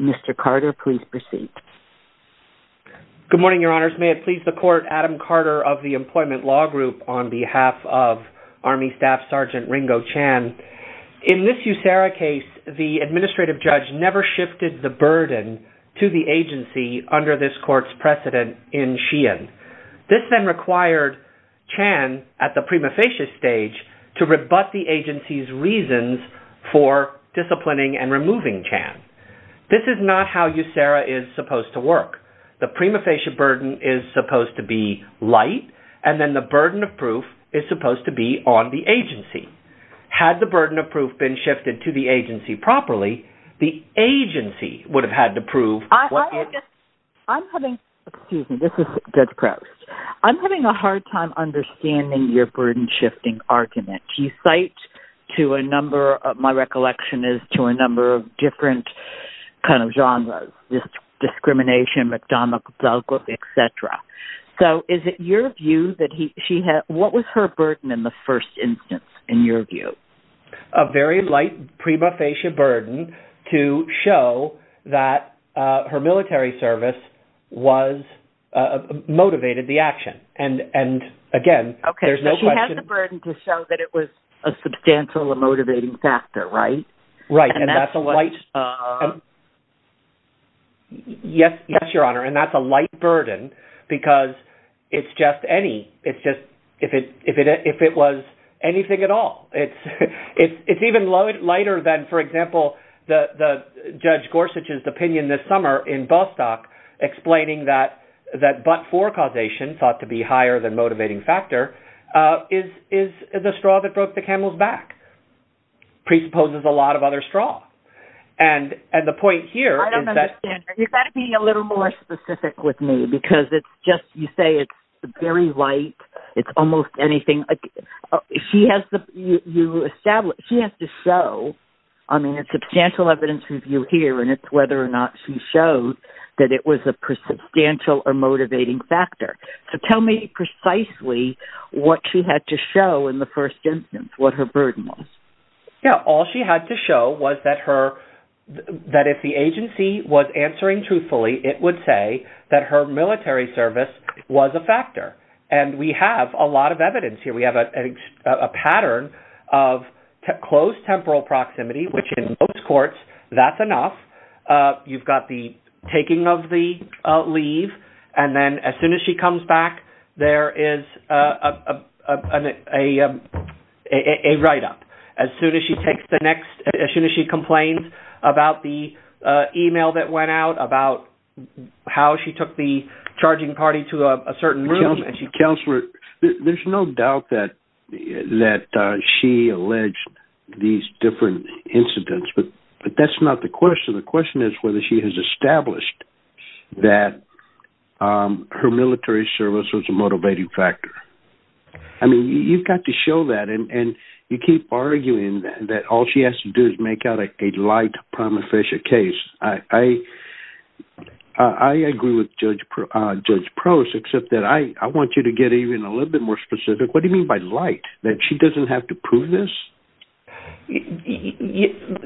Mr. Carter, please proceed. Good morning, Your Honors. May it please the Court, Adam Carter of the Employment Law Group on behalf of Army Staff Sergeant Ringo Chan. In this USARA case, the administrative judge never shifted the burden to the agency under this Court's precedent in Sheehan. This then for disciplining and removing Chan. This is not how USARA is supposed to work. The prima facie burden is supposed to be light, and then the burden of proof is supposed to be on the agency. Had the burden of proof been shifted to the agency properly, the agency would have had to prove what they're saying. I'm having a hard time understanding your burden-shifting argument. Do you cite the burden to a number-my recollection is to a number of different kind of genres-discrimination, McDonough, etc. So, is it your view that she had-what was her burden in the first instance, in your view? A very light prima facie burden to show that her military service was-motivated the action. And again, there's no question- Yes, Your Honor. And that's a light burden because it's just any-it's just-if it was anything at all. It's even lighter than, for example, Judge Gorsuch's opinion this summer in Bostock explaining that but-for causation, thought to be higher than motivating factor, is the straw that broke the camel's back. Presupposes a lot of other straw. And the point here is that- I don't understand. You've got to be a little more specific with me because it's just-you say it's very light. It's almost anything. She has to show-I mean, it's a substantial evidence review here, and it's whether or not she showed that it was a substantial or what she had to show in the first instance, what her burden was. Yeah. All she had to show was that her-that if the agency was answering truthfully, it would say that her military service was a factor. And we have a lot of evidence here. We have a pattern of close temporal proximity, which in most courts, that's enough. You've got the a write-up. As soon as she takes the next-as soon as she complains about the email that went out, about how she took the charging party to a certain room- Counselor, there's no doubt that she alleged these different incidents, but that's not the question. The question is whether she has established that her military service was a motivating factor. I mean, you've got to show that, and you keep arguing that all she has to do is make out a light, prima facie case. I agree with Judge Prost, except that I want you to get even a little bit more specific. What do you mean by light? That she doesn't have to prove this?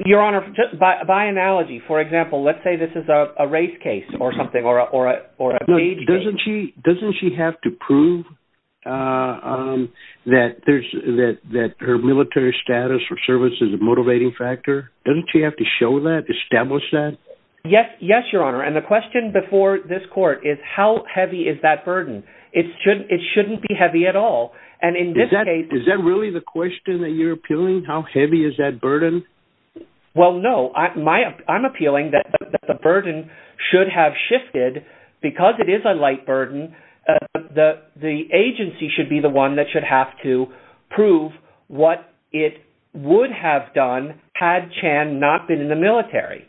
Your Honor, by analogy, for example, let's say this is a race case or something or a- Doesn't she have to prove that her military status or service is a motivating factor? Doesn't she have to show that, establish that? Yes, Your Honor. And the question before this court is how heavy is that burden? It shouldn't be heavy at all. And in this case- Is that really the question that you're appealing? How heavy is that burden? Well, no. I'm appealing that the burden should have shifted. Because it is a light burden, the agency should be the one that should have to prove what it would have done had Chan not been in the military.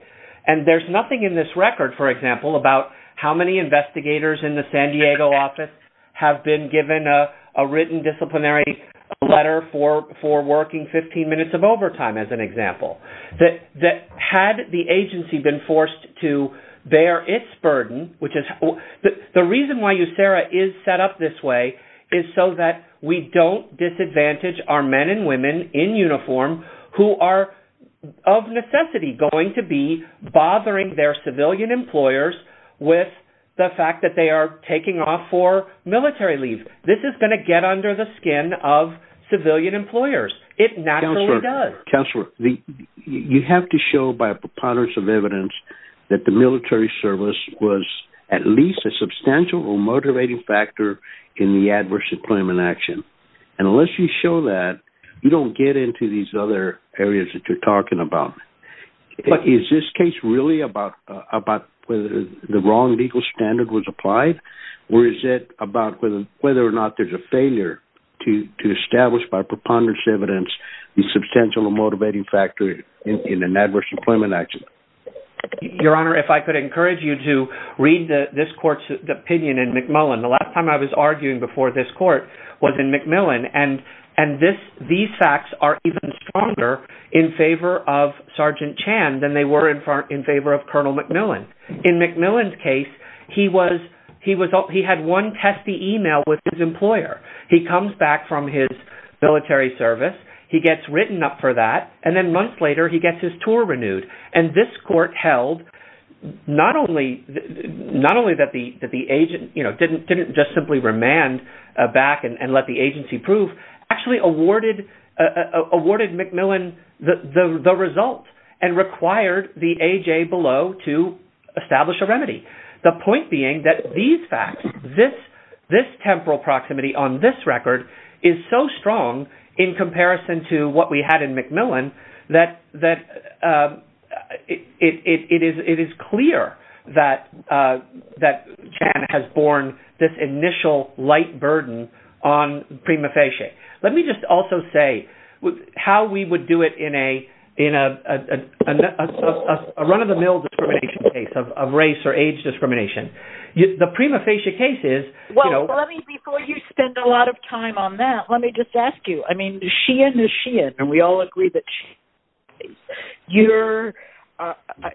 And there's nothing in this record, for example, about how many investigators in the San Diego office have been given a written disciplinary letter for working 15 minutes of example. That had the agency been forced to bear its burden, which is- The reason why USERRA is set up this way is so that we don't disadvantage our men and women in uniform who are of necessity going to be bothering their civilian employers with the fact that they are taking off for military leave. This is going to get under the skin of civilian employers. It naturally does. Counselor, you have to show by a preponderance of evidence that the military service was at least a substantial or motivating factor in the adverse employment action. And unless you show that, you don't get into these other areas that you're talking about. But is this case really about whether the wrong legal standard was applied? Or is it about whether or not there's a failure to establish by preponderance of evidence a substantial or motivating factor in an adverse employment action? Your Honor, if I could encourage you to read this court's opinion in McMillan. The last time I was arguing before this court was in McMillan. And these facts are even stronger in favor of Sergeant Chan than they were in favor of Colonel McMillan. In McMillan's case, he had one testy email with his employer. He comes back from his military service. He gets written up for that. And then months later, he gets his tour renewed. And this court held not only that the agent didn't just simply remand back and let the agency prove, actually awarded McMillan the result and required the AJ below to establish a remedy. The point being that these facts, this temporal proximity on this record is so strong in comparison to what we had in McMillan that it is clear that Chan has borne this initial light burden on prima facie. Let me just also say how we would do it in a run-of-the-mill discrimination case of race or age discrimination. The prima facie case is, you know... Well, let me, before you spend a lot of time on that, let me just ask you, I mean, Sheehan is Sheehan, and we all agree that she...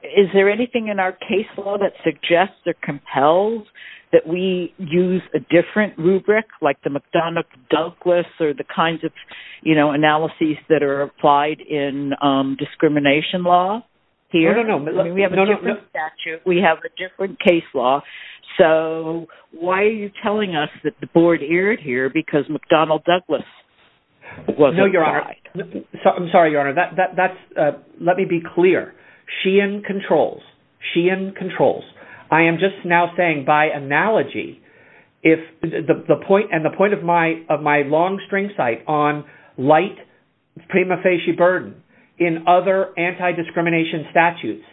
Is there anything in our case law that suggests or compels that we use a different rubric, like the McDonough-Douglas or the kinds of, you know, analyses that are applied in discrimination law here? We have a different statute, we have a different case law, so why are you telling us that the board erred here because McDonough-Douglas wasn't applied? No, Your Honor, I'm sorry, Your Honor, that's, let me be clear. Sheehan controls, Sheehan controls. I am just now saying by analogy, if the point, and the point of my long string cite on light prima facie burden in other anti-discrimination statutes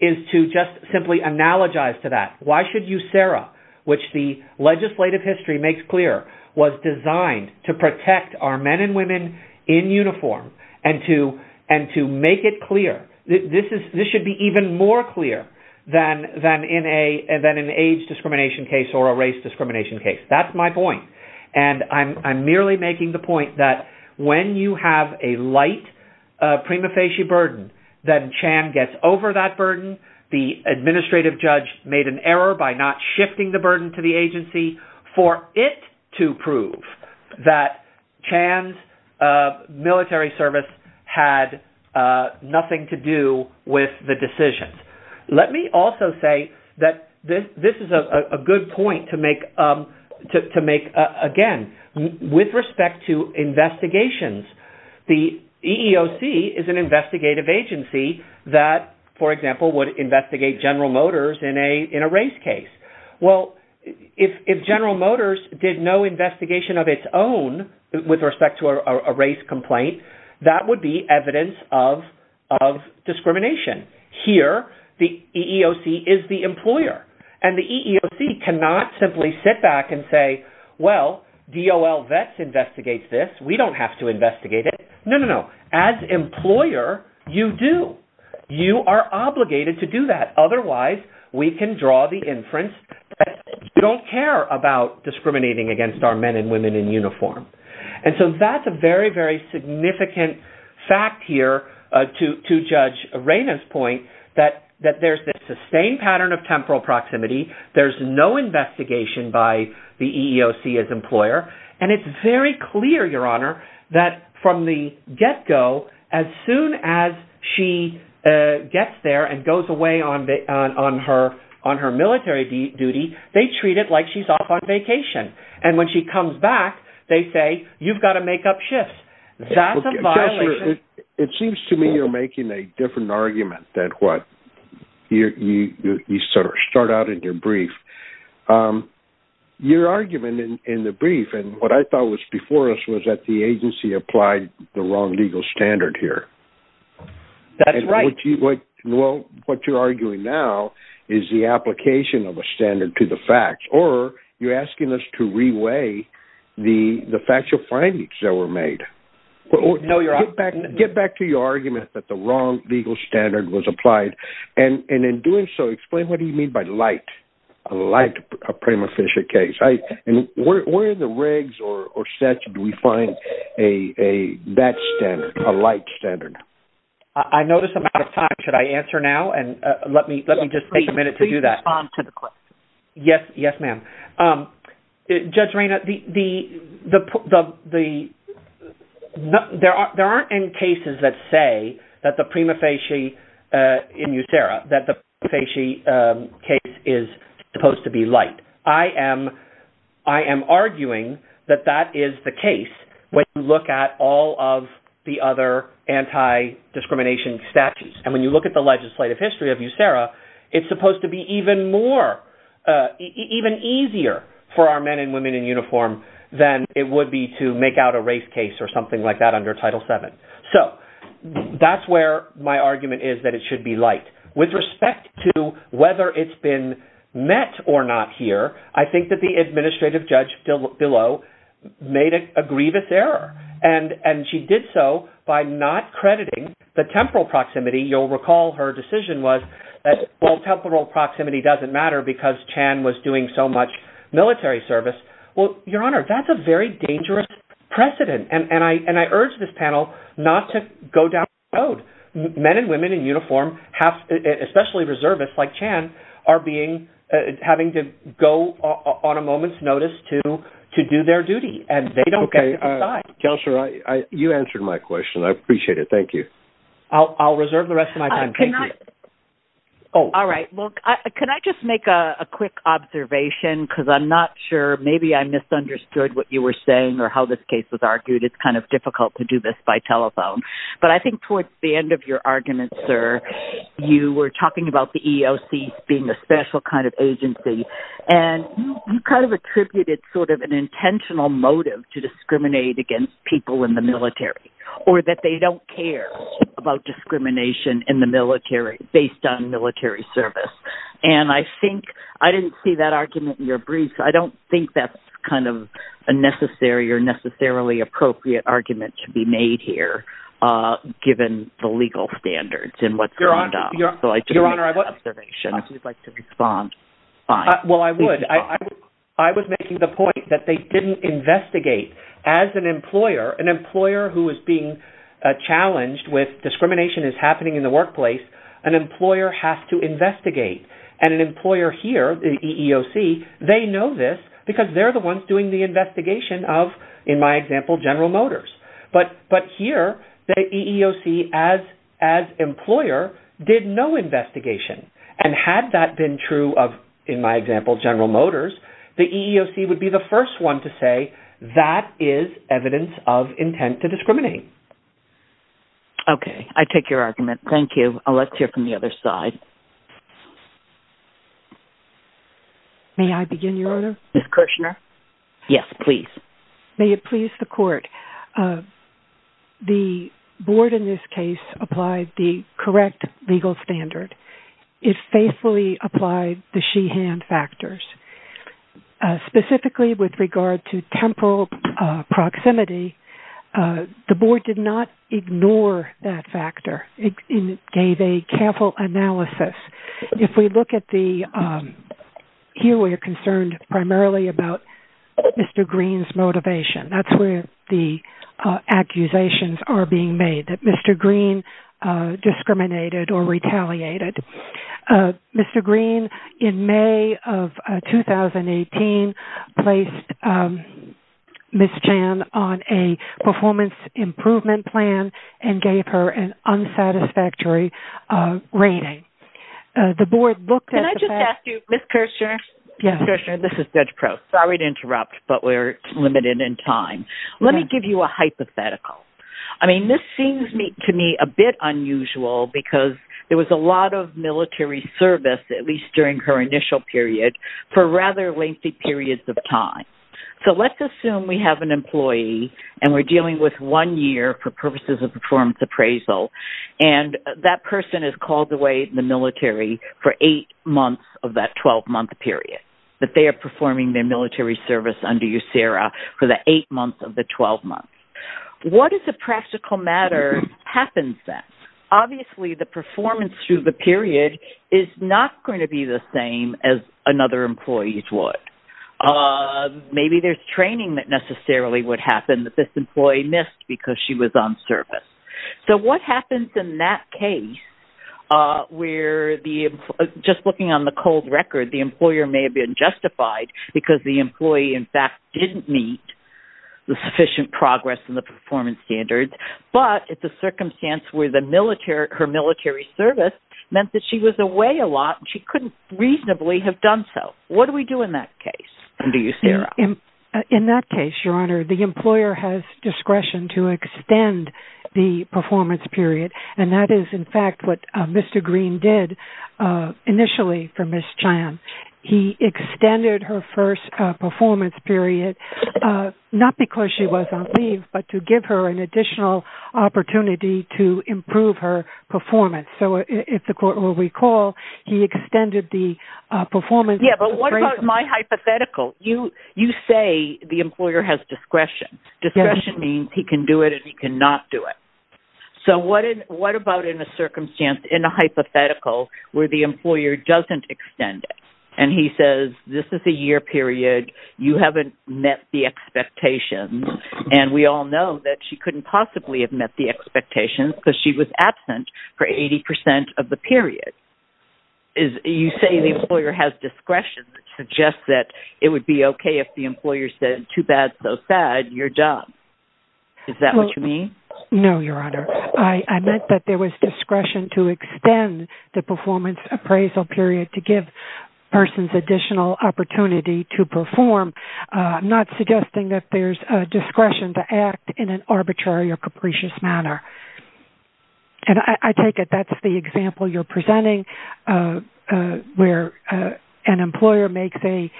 is to just simply analogize to that, why should you, Sarah, which the legislative history makes clear was designed to protect our men and women in uniform and to make it clear, this should be even more clear than in an age discrimination case or a race discrimination case. That's my point, and I'm merely making the point that when you have a light prima facie burden, then Chan gets over that burden. The administrative judge made an error by not shifting the burden to the agency for it to prove that Chan's military service had nothing to do with the decisions. Let me also say that this is a good point to make, again, with respect to investigations. The EEOC is an investigative agency that, for example, would investigate General Motors in a race case. Well, if General Motors did no investigation of its own with respect to a race complaint, that would be evidence of discrimination. Here, the EEOC is the employer, and the EEOC cannot simply sit back and say, well, DOL Vets investigates this. We don't have to investigate it. No, no, no. As employer, you do. You are obligated to do that. Otherwise, we can draw the inference that we don't care about discriminating against our men and women in uniform, and so that's a very, very significant fact here to Judge Reyna's point that there's this sustained pattern of temporal proximity. There's no investigation by the EEOC as employer, and it's very clear, Your Honor, that from the get-go, as soon as she gets there and goes away on her military duty, they treat it like she's off on vacation, and when she comes back, they say, you've got to make up shifts. That's a violation. It seems to me you're making a different argument than what you start out in your brief. Your argument in the brief, and what I thought was before us, was that the agency applied the wrong legal standard here. That's right. Well, what you're arguing now is the application of a standard to the facts, or you're asking us to reweigh the factual findings that were made. No, Your Honor. Get back to your argument that the wrong legal standard was applied, and in doing so, explain what do you mean by light, a light prima facie case, and where in the regs or statute do we find that standard, a light standard? I notice I'm out of time. Should I answer now, and let me just take a minute to do that? Please respond to the question. Yes, ma'am. Judge Reyna, there aren't any cases that say that the prima facie in USERRA, that the prima facie case is supposed to be light. I am arguing that that is the case when you look at all of the other anti-discrimination statutes, and when you look at the legislative history of even easier for our men and women in uniform than it would be to make out a race case or something like that under Title VII. So that's where my argument is that it should be light. With respect to whether it's been met or not here, I think that the administrative judge, Dillow, made a grievous error, and she did so by not crediting the temporal proximity. You'll much military service. Well, Your Honor, that's a very dangerous precedent, and I urge this panel not to go down that road. Men and women in uniform, especially reservists like Chan, are having to go on a moment's notice to do their duty, and they don't get to decide. Counselor, you answered my question. I appreciate it. Thank you. I'll reserve the rest of my time. Thank you. Oh, all right. Well, can I just make a quick observation, because I'm not sure. Maybe I misunderstood what you were saying or how this case was argued. It's kind of difficult to do this by telephone, but I think towards the end of your argument, sir, you were talking about the EEOC being a special kind of agency, and you kind of attributed sort of an intentional motive to discriminate against people in the military or that they don't care about discrimination in the based on military service. And I think I didn't see that argument in your brief. I don't think that's kind of a necessary or necessarily appropriate argument to be made here, given the legal standards and what's going on. Your Honor, I would like to respond. Well, I would. I was making the point that they didn't investigate as an employer, an employer who is being challenged with discrimination is happening in the workplace. An employer has to investigate. And an employer here, the EEOC, they know this because they're the ones doing the investigation of, in my example, General Motors. But here, the EEOC, as employer, did no investigation. And had that been true of, in my example, General Motors, the EEOC would be the first one to say that is evidence of intent to discriminate. Okay. I take your argument. Thank you. Let's hear from the other side. May I begin, Your Honor? Ms. Kirshner. Yes, please. May it please the court. The board in this case applied the correct legal standard. It faithfully applied the she-hand factors. Specifically with regard to temporal proximity, the board did not ignore that factor. It gave a careful analysis. If we look at the, here we are concerned primarily about Mr. Green's motivation. That's where the Mr. Green, in May of 2018, placed Ms. Chan on a performance improvement plan and gave her an unsatisfactory rating. The board looked at the fact- Can I just ask you, Ms. Kirshner? Yes. Ms. Kirshner, this is Judge Crowe. Sorry to interrupt, but we're limited in time. Let me give you a hypothetical. I mean, this seems to me a bit unusual because there was a lot of military service, at least during her initial period, for rather lengthy periods of time. Let's assume we have an employee and we're dealing with one year for purposes of performance appraisal. That person is called away in the military for eight months of that 12-month period, that they are performing their military service under USERRA for the eight months of the 12 months. What is the practical matter that happens then? Obviously, the performance through the period is not going to be the same as another employee's would. Maybe there's training that necessarily would happen that this employee missed because she was on service. So what happens in that case where, just looking on the cold record, the employer may have been justified because the employee, in fact, didn't meet the sufficient progress in the performance standards, but it's a circumstance where her military service meant that she was away a lot and she couldn't reasonably have done so. What do we do in that case under USERRA? In that case, Your Honor, the employer has discretion to extend the performance period. And that is, in fact, what Mr. Green did initially for Ms. Chan. He extended her first performance period, not because she was on leave, but to give her an additional opportunity to improve her performance. So if the court will recall, he extended the performance. Yeah, but what about my hypothetical? You say the employer has discretion. Discretion means he can do it and he cannot do it. So what about in a hypothetical where the employer doesn't extend it and he says, this is a year period. You haven't met the expectations. And we all know that she couldn't possibly have met the expectations because she was absent for 80% of the period. You say the employer has discretion that suggests that it would be okay if the employer said, too bad, so sad, you're done. Is that what you mean? No, Your Honor. I meant that there was appraisal period to give persons additional opportunity to perform, not suggesting that there's a discretion to act in an arbitrary or capricious manner. And I take it that's the example you're presenting, where an employer makes a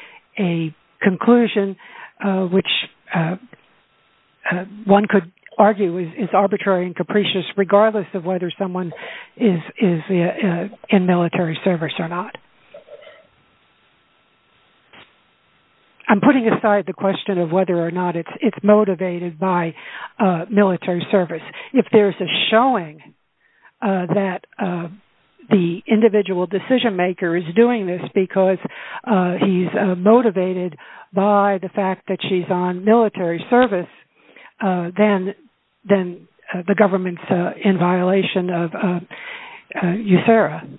conclusion, which one could argue is on military service or not. I'm putting aside the question of whether or not it's motivated by military service. If there's a showing that the individual decision maker is doing this because he's motivated by the fact that she's on military service, then the government's in violation of military service.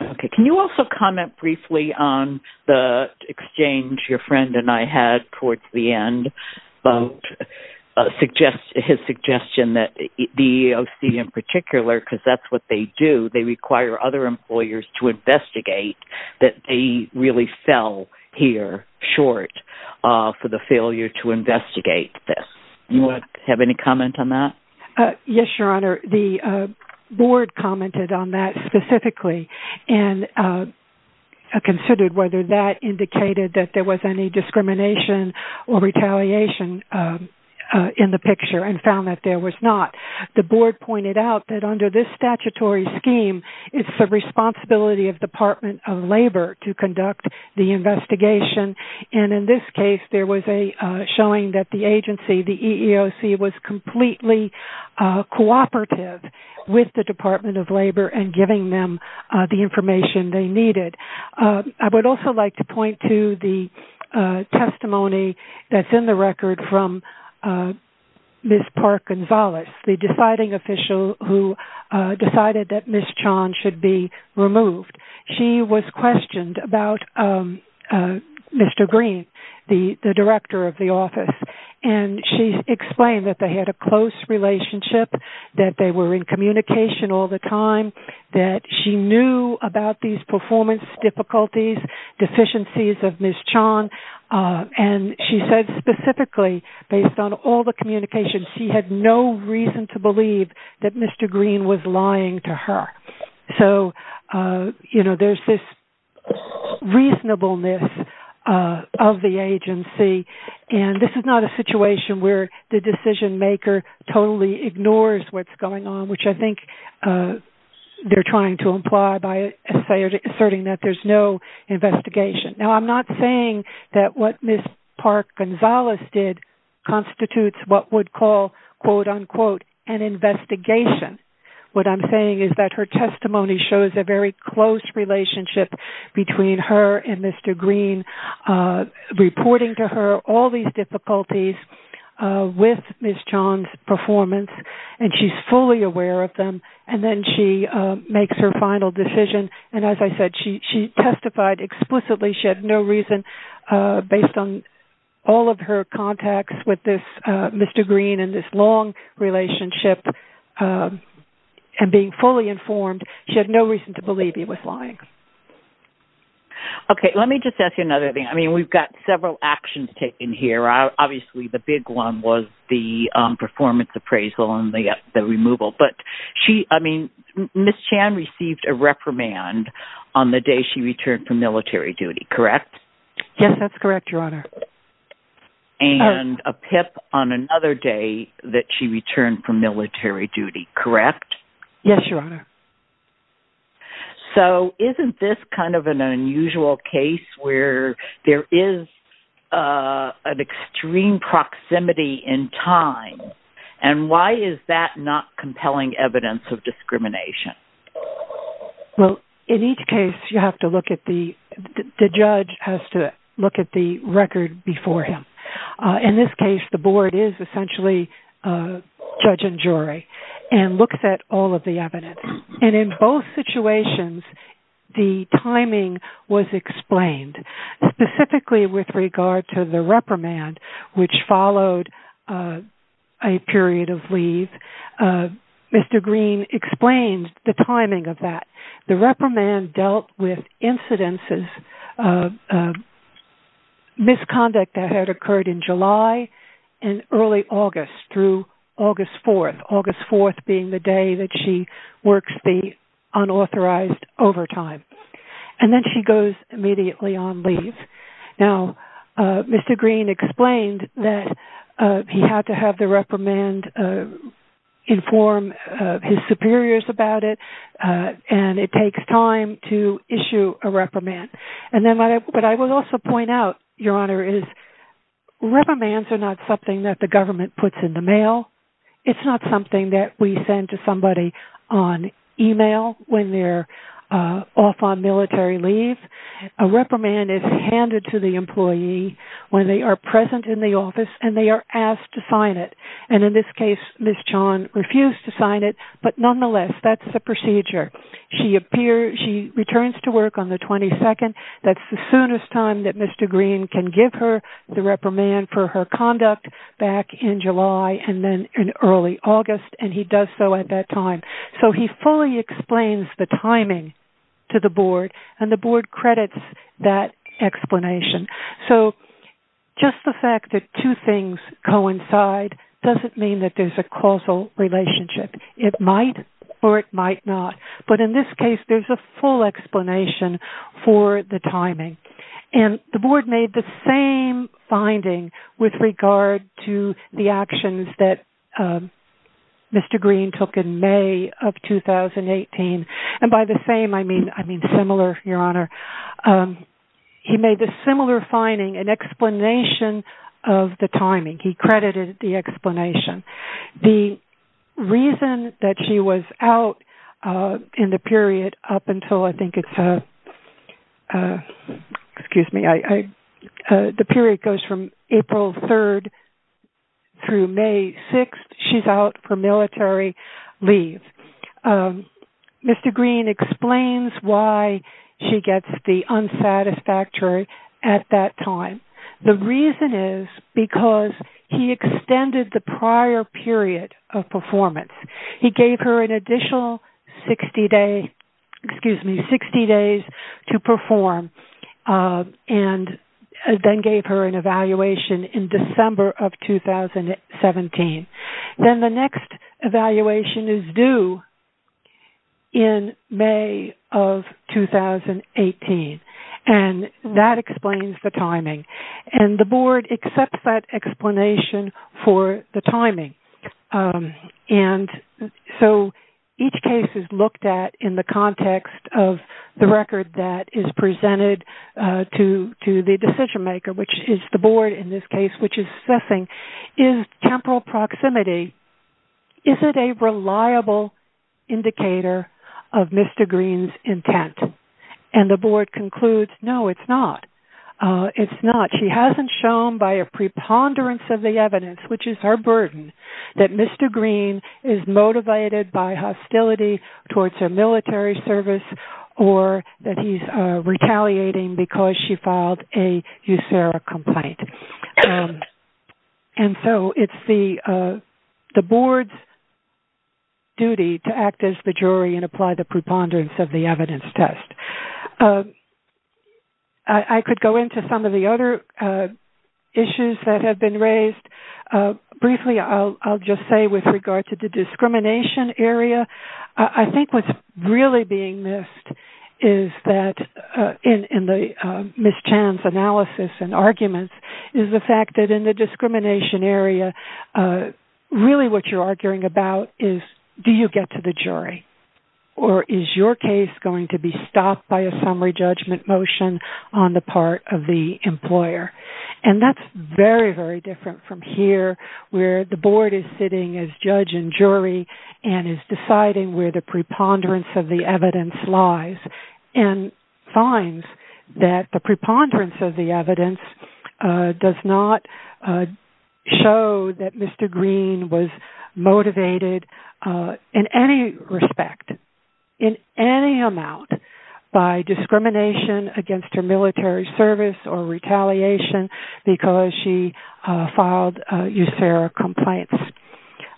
Okay. Can you also comment briefly on the exchange your friend and I had towards the end about his suggestion that the EEOC in particular, because that's what they do, they require other employers to investigate that they really fell here short for the failure to investigate this. You want to have any comment on that? Yes, Your Honor. The board commented on that specifically and considered whether that indicated that there was any discrimination or retaliation in the picture and found that there was not. The board pointed out that under this statutory scheme, it's the responsibility of Department of Labor to conduct the investigation. And in this case, there was a showing that the agency, the EEOC was completely cooperative with the Department of Labor and giving them the information they needed. I would also like to point to the testimony that's in the record from Ms. Park Gonzales, the deciding official who decided that Ms. Chan should be removed. She was questioned about Mr. Green, the director of communication all the time, that she knew about these performance difficulties, deficiencies of Ms. Chan. And she said specifically, based on all the communications, she had no reason to believe that Mr. Green was lying to her. So, you know, there's this reasonableness of the agency. And this is not a situation where the decision-maker totally ignores what's going on, which I think they're trying to imply by asserting that there's no investigation. Now, I'm not saying that what Ms. Park Gonzales did constitutes what would call, quote, unquote, an investigation. What I'm saying is that her testimony shows a very close relationship between her and Mr. Green, reporting to her all these difficulties with Ms. Chan's performance, and she's fully aware of them. And then she makes her final decision. And as I said, she testified explicitly. She had no reason, based on all of her contacts with Mr. Green and this long relationship and being fully informed, she had no reason to believe he was lying. Okay. Let me just ask you another thing. I mean, we've got several actions taken here. Obviously, the big one was the performance appraisal and the removal. But she, I mean, Ms. Chan received a reprimand on the day she returned from military duty, correct? Yes, that's correct, Your Honor. And a PIP on another day that she returned from military duty, correct? Yes, Your Honor. So, isn't this kind of an unusual case where there is an extreme proximity in time? And why is that not compelling evidence of discrimination? Well, in each case, you have to look at the, the judge has to look at the record before him. In this case, the board is essentially a judge and jury and looks at all of the evidence. And in both situations, the timing was explained, specifically with regard to the reprimand, which followed a period of leave. Mr. Green explained the timing of that. The reprimand dealt with incidences of misconduct that had occurred in July and early August through August 4th, August 4th being the day that she works the unauthorized overtime. And then she goes immediately on leave. Now, Mr. Green explained that he had to have the reprimand inform his superiors about it. And it takes time to issue a reprimand. And then what I would also point out, Your Honor, is reprimands are not something that government puts in the mail. It's not something that we send to somebody on email when they're off on military leave. A reprimand is handed to the employee when they are present in the office and they are asked to sign it. And in this case, Ms. John refused to sign it. But nonetheless, that's the procedure. She appears, she returns to work on the 22nd. That's the soonest time that and then in early August. And he does so at that time. So he fully explains the timing to the board and the board credits that explanation. So just the fact that two things coincide doesn't mean that there's a causal relationship. It might or it might not. But in this case, there's a full explanation for the timing. And the board made the same finding with regard to the actions that Mr. Green took in May of 2018. And by the same, I mean, I mean, similar, Your Honor. He made a similar finding an explanation of the timing. He credited the explanation. The reason that she was out in the period up until I think it's a excuse me, the period goes from April 3rd through May 6th. She's out for military leave. Mr. Green explains why she gets the unsatisfactory at that time. The reason is because he extended the prior period of performance. He gave her an additional 60 days to perform. And then gave her an evaluation in December of 2017. Then the next evaluation is due in May of 2018. And that explains the timing. And the board accepts that explanation for the record that is presented to the decision maker, which is the board in this case, which is assessing is temporal proximity. Is it a reliable indicator of Mr. Green's intent? And the board concludes, no, it's not. It's not. She hasn't shown by a preponderance of the evidence, which is her burden, that Mr. Green is motivated by hostility towards her military service or that he's retaliating because she filed a USERRA complaint. And so it's the board's duty to act as the jury and apply the preponderance of the evidence test. I could go into some of the other issues that have been raised. Briefly, I'll just say with regard to the discrimination area, I think what's really being missed is that in the Ms. Chan's analysis and arguments is the fact that in the discrimination area, really what you're arguing about is do you get to the jury or is your case going to be stopped by a summary judgment motion on the part of the employer? And that's very, very different from here, where the board is sitting as judge and jury and is deciding where the preponderance of the evidence lies and finds that the preponderance of the evidence does not show that Mr. Green was motivated in any respect, in any amount, by discrimination against her military service or retaliation because she filed a USERRA complaint.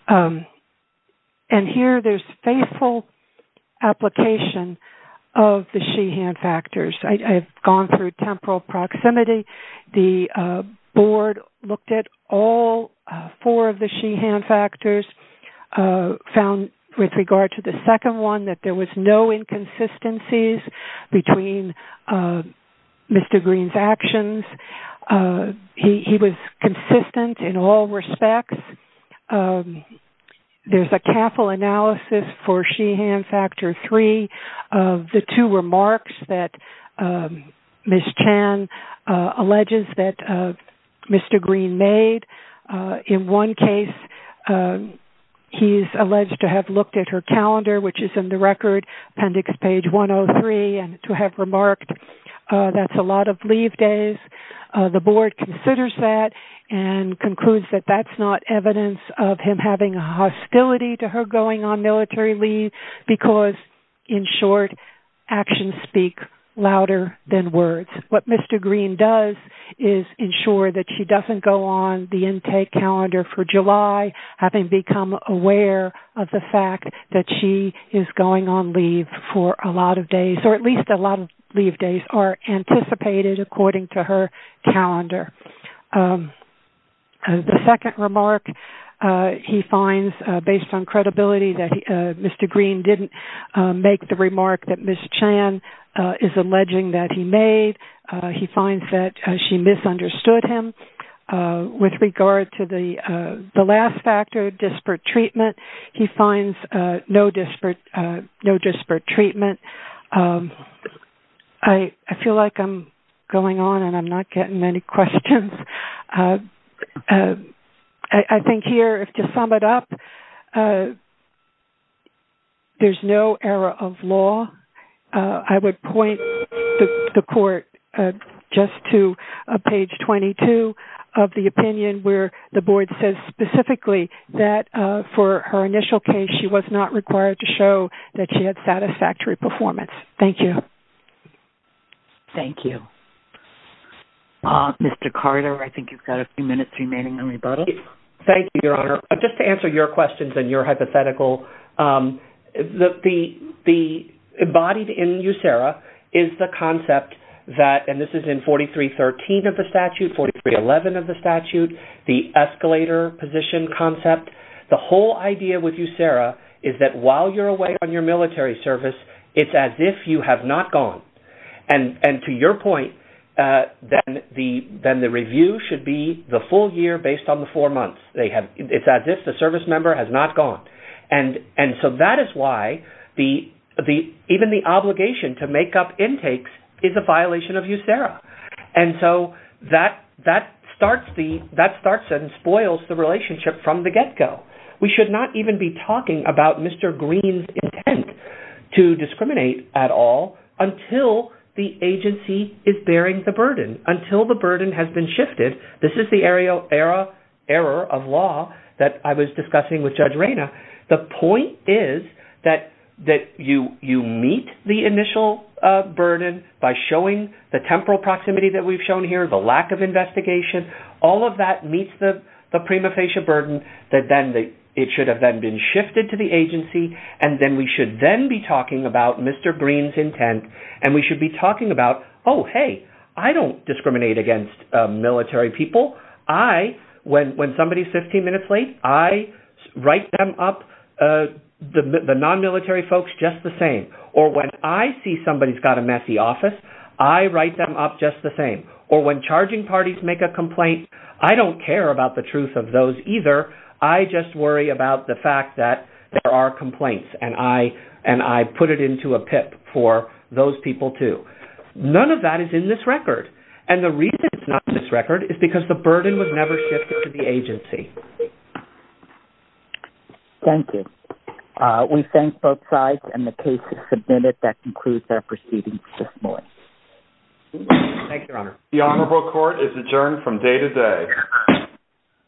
And here there's faithful application of the she-hand factors. I've gone through temporal proximity. The board looked at all four of the she-hand factors, found with regard to the second one that there was no inconsistencies between Mr. Green's actions. He was consistent in all respects. There's a careful analysis for she-hand factor three of the two remarks that Ms. Chan alleges that Mr. Green made. In one case, he's alleged to have looked at her calendar, which is in the record, appendix page 103, and to have remarked that's a lot of leave days. The board considers that and concludes that that's not evidence of him having a hostility to her going on military leave because, in short, actions speak louder than words. What Mr. Green does is ensure that she doesn't go on the intake calendar for July, having become aware of the fact that she is going on leave for a lot of days, or at least a lot of leave days are anticipated according to her calendar. The second remark he finds, based on credibility, that Mr. Green didn't make the remark that Ms. Chan is alleging that he made. He finds that she misunderstood him. With regard to the last factor, disparate treatment, he finds no disparate treatment. I feel like I'm going on and I'm not getting many questions. I think here, to sum it up, there's no error of law. I would point the court just to page 22 of the opinion where the board says specifically that, for her initial case, she was not required to show that she had satisfactory performance. Thank you. Thank you. Mr. Carter, I think you've got a few minutes remaining on rebuttal. Thank you, Your Honor. Just to answer your questions and your hypothetical, the embodied in USERRA is the concept that, and this is in 4313 of the statute, 4311 of the statute, the escalator position concept. The whole idea with USERRA is that while you're away on your military service, it's as if you have not gone. To your point, then the review should be the full year based on the four months. It's as if the service member has not gone. And so that is why even the obligation to make up intakes is a violation of USERRA. And so that starts and spoils the relationship from the get-go. We should not even be talking about Mr. Green's intent to discriminate at all until the agency is bearing the burden, until the burden has been shifted. This is the error of law that I was discussing with Judge Reyna. The point is that you meet the initial burden by showing the temporal proximity that we've shown here, the lack of investigation. All of that meets the prima facie burden that then it should have been shifted to the agency. And then we should then be talking about Mr. Green's intent to discriminate against military people. When somebody's 15 minutes late, I write them up, the non-military folks, just the same. Or when I see somebody's got a messy office, I write them up just the same. Or when charging parties make a complaint, I don't care about the truth of those either. I just worry about the fact that there are complaints and I put it into a PIP for those people too. None of that is in this record. And the reason it's not in this record is because the burden was never shifted to the agency. Thank you. We thank both sides and the case is submitted. That concludes our proceedings this morning. Thank you, Your Honor. The honorable court is adjourned from day to day.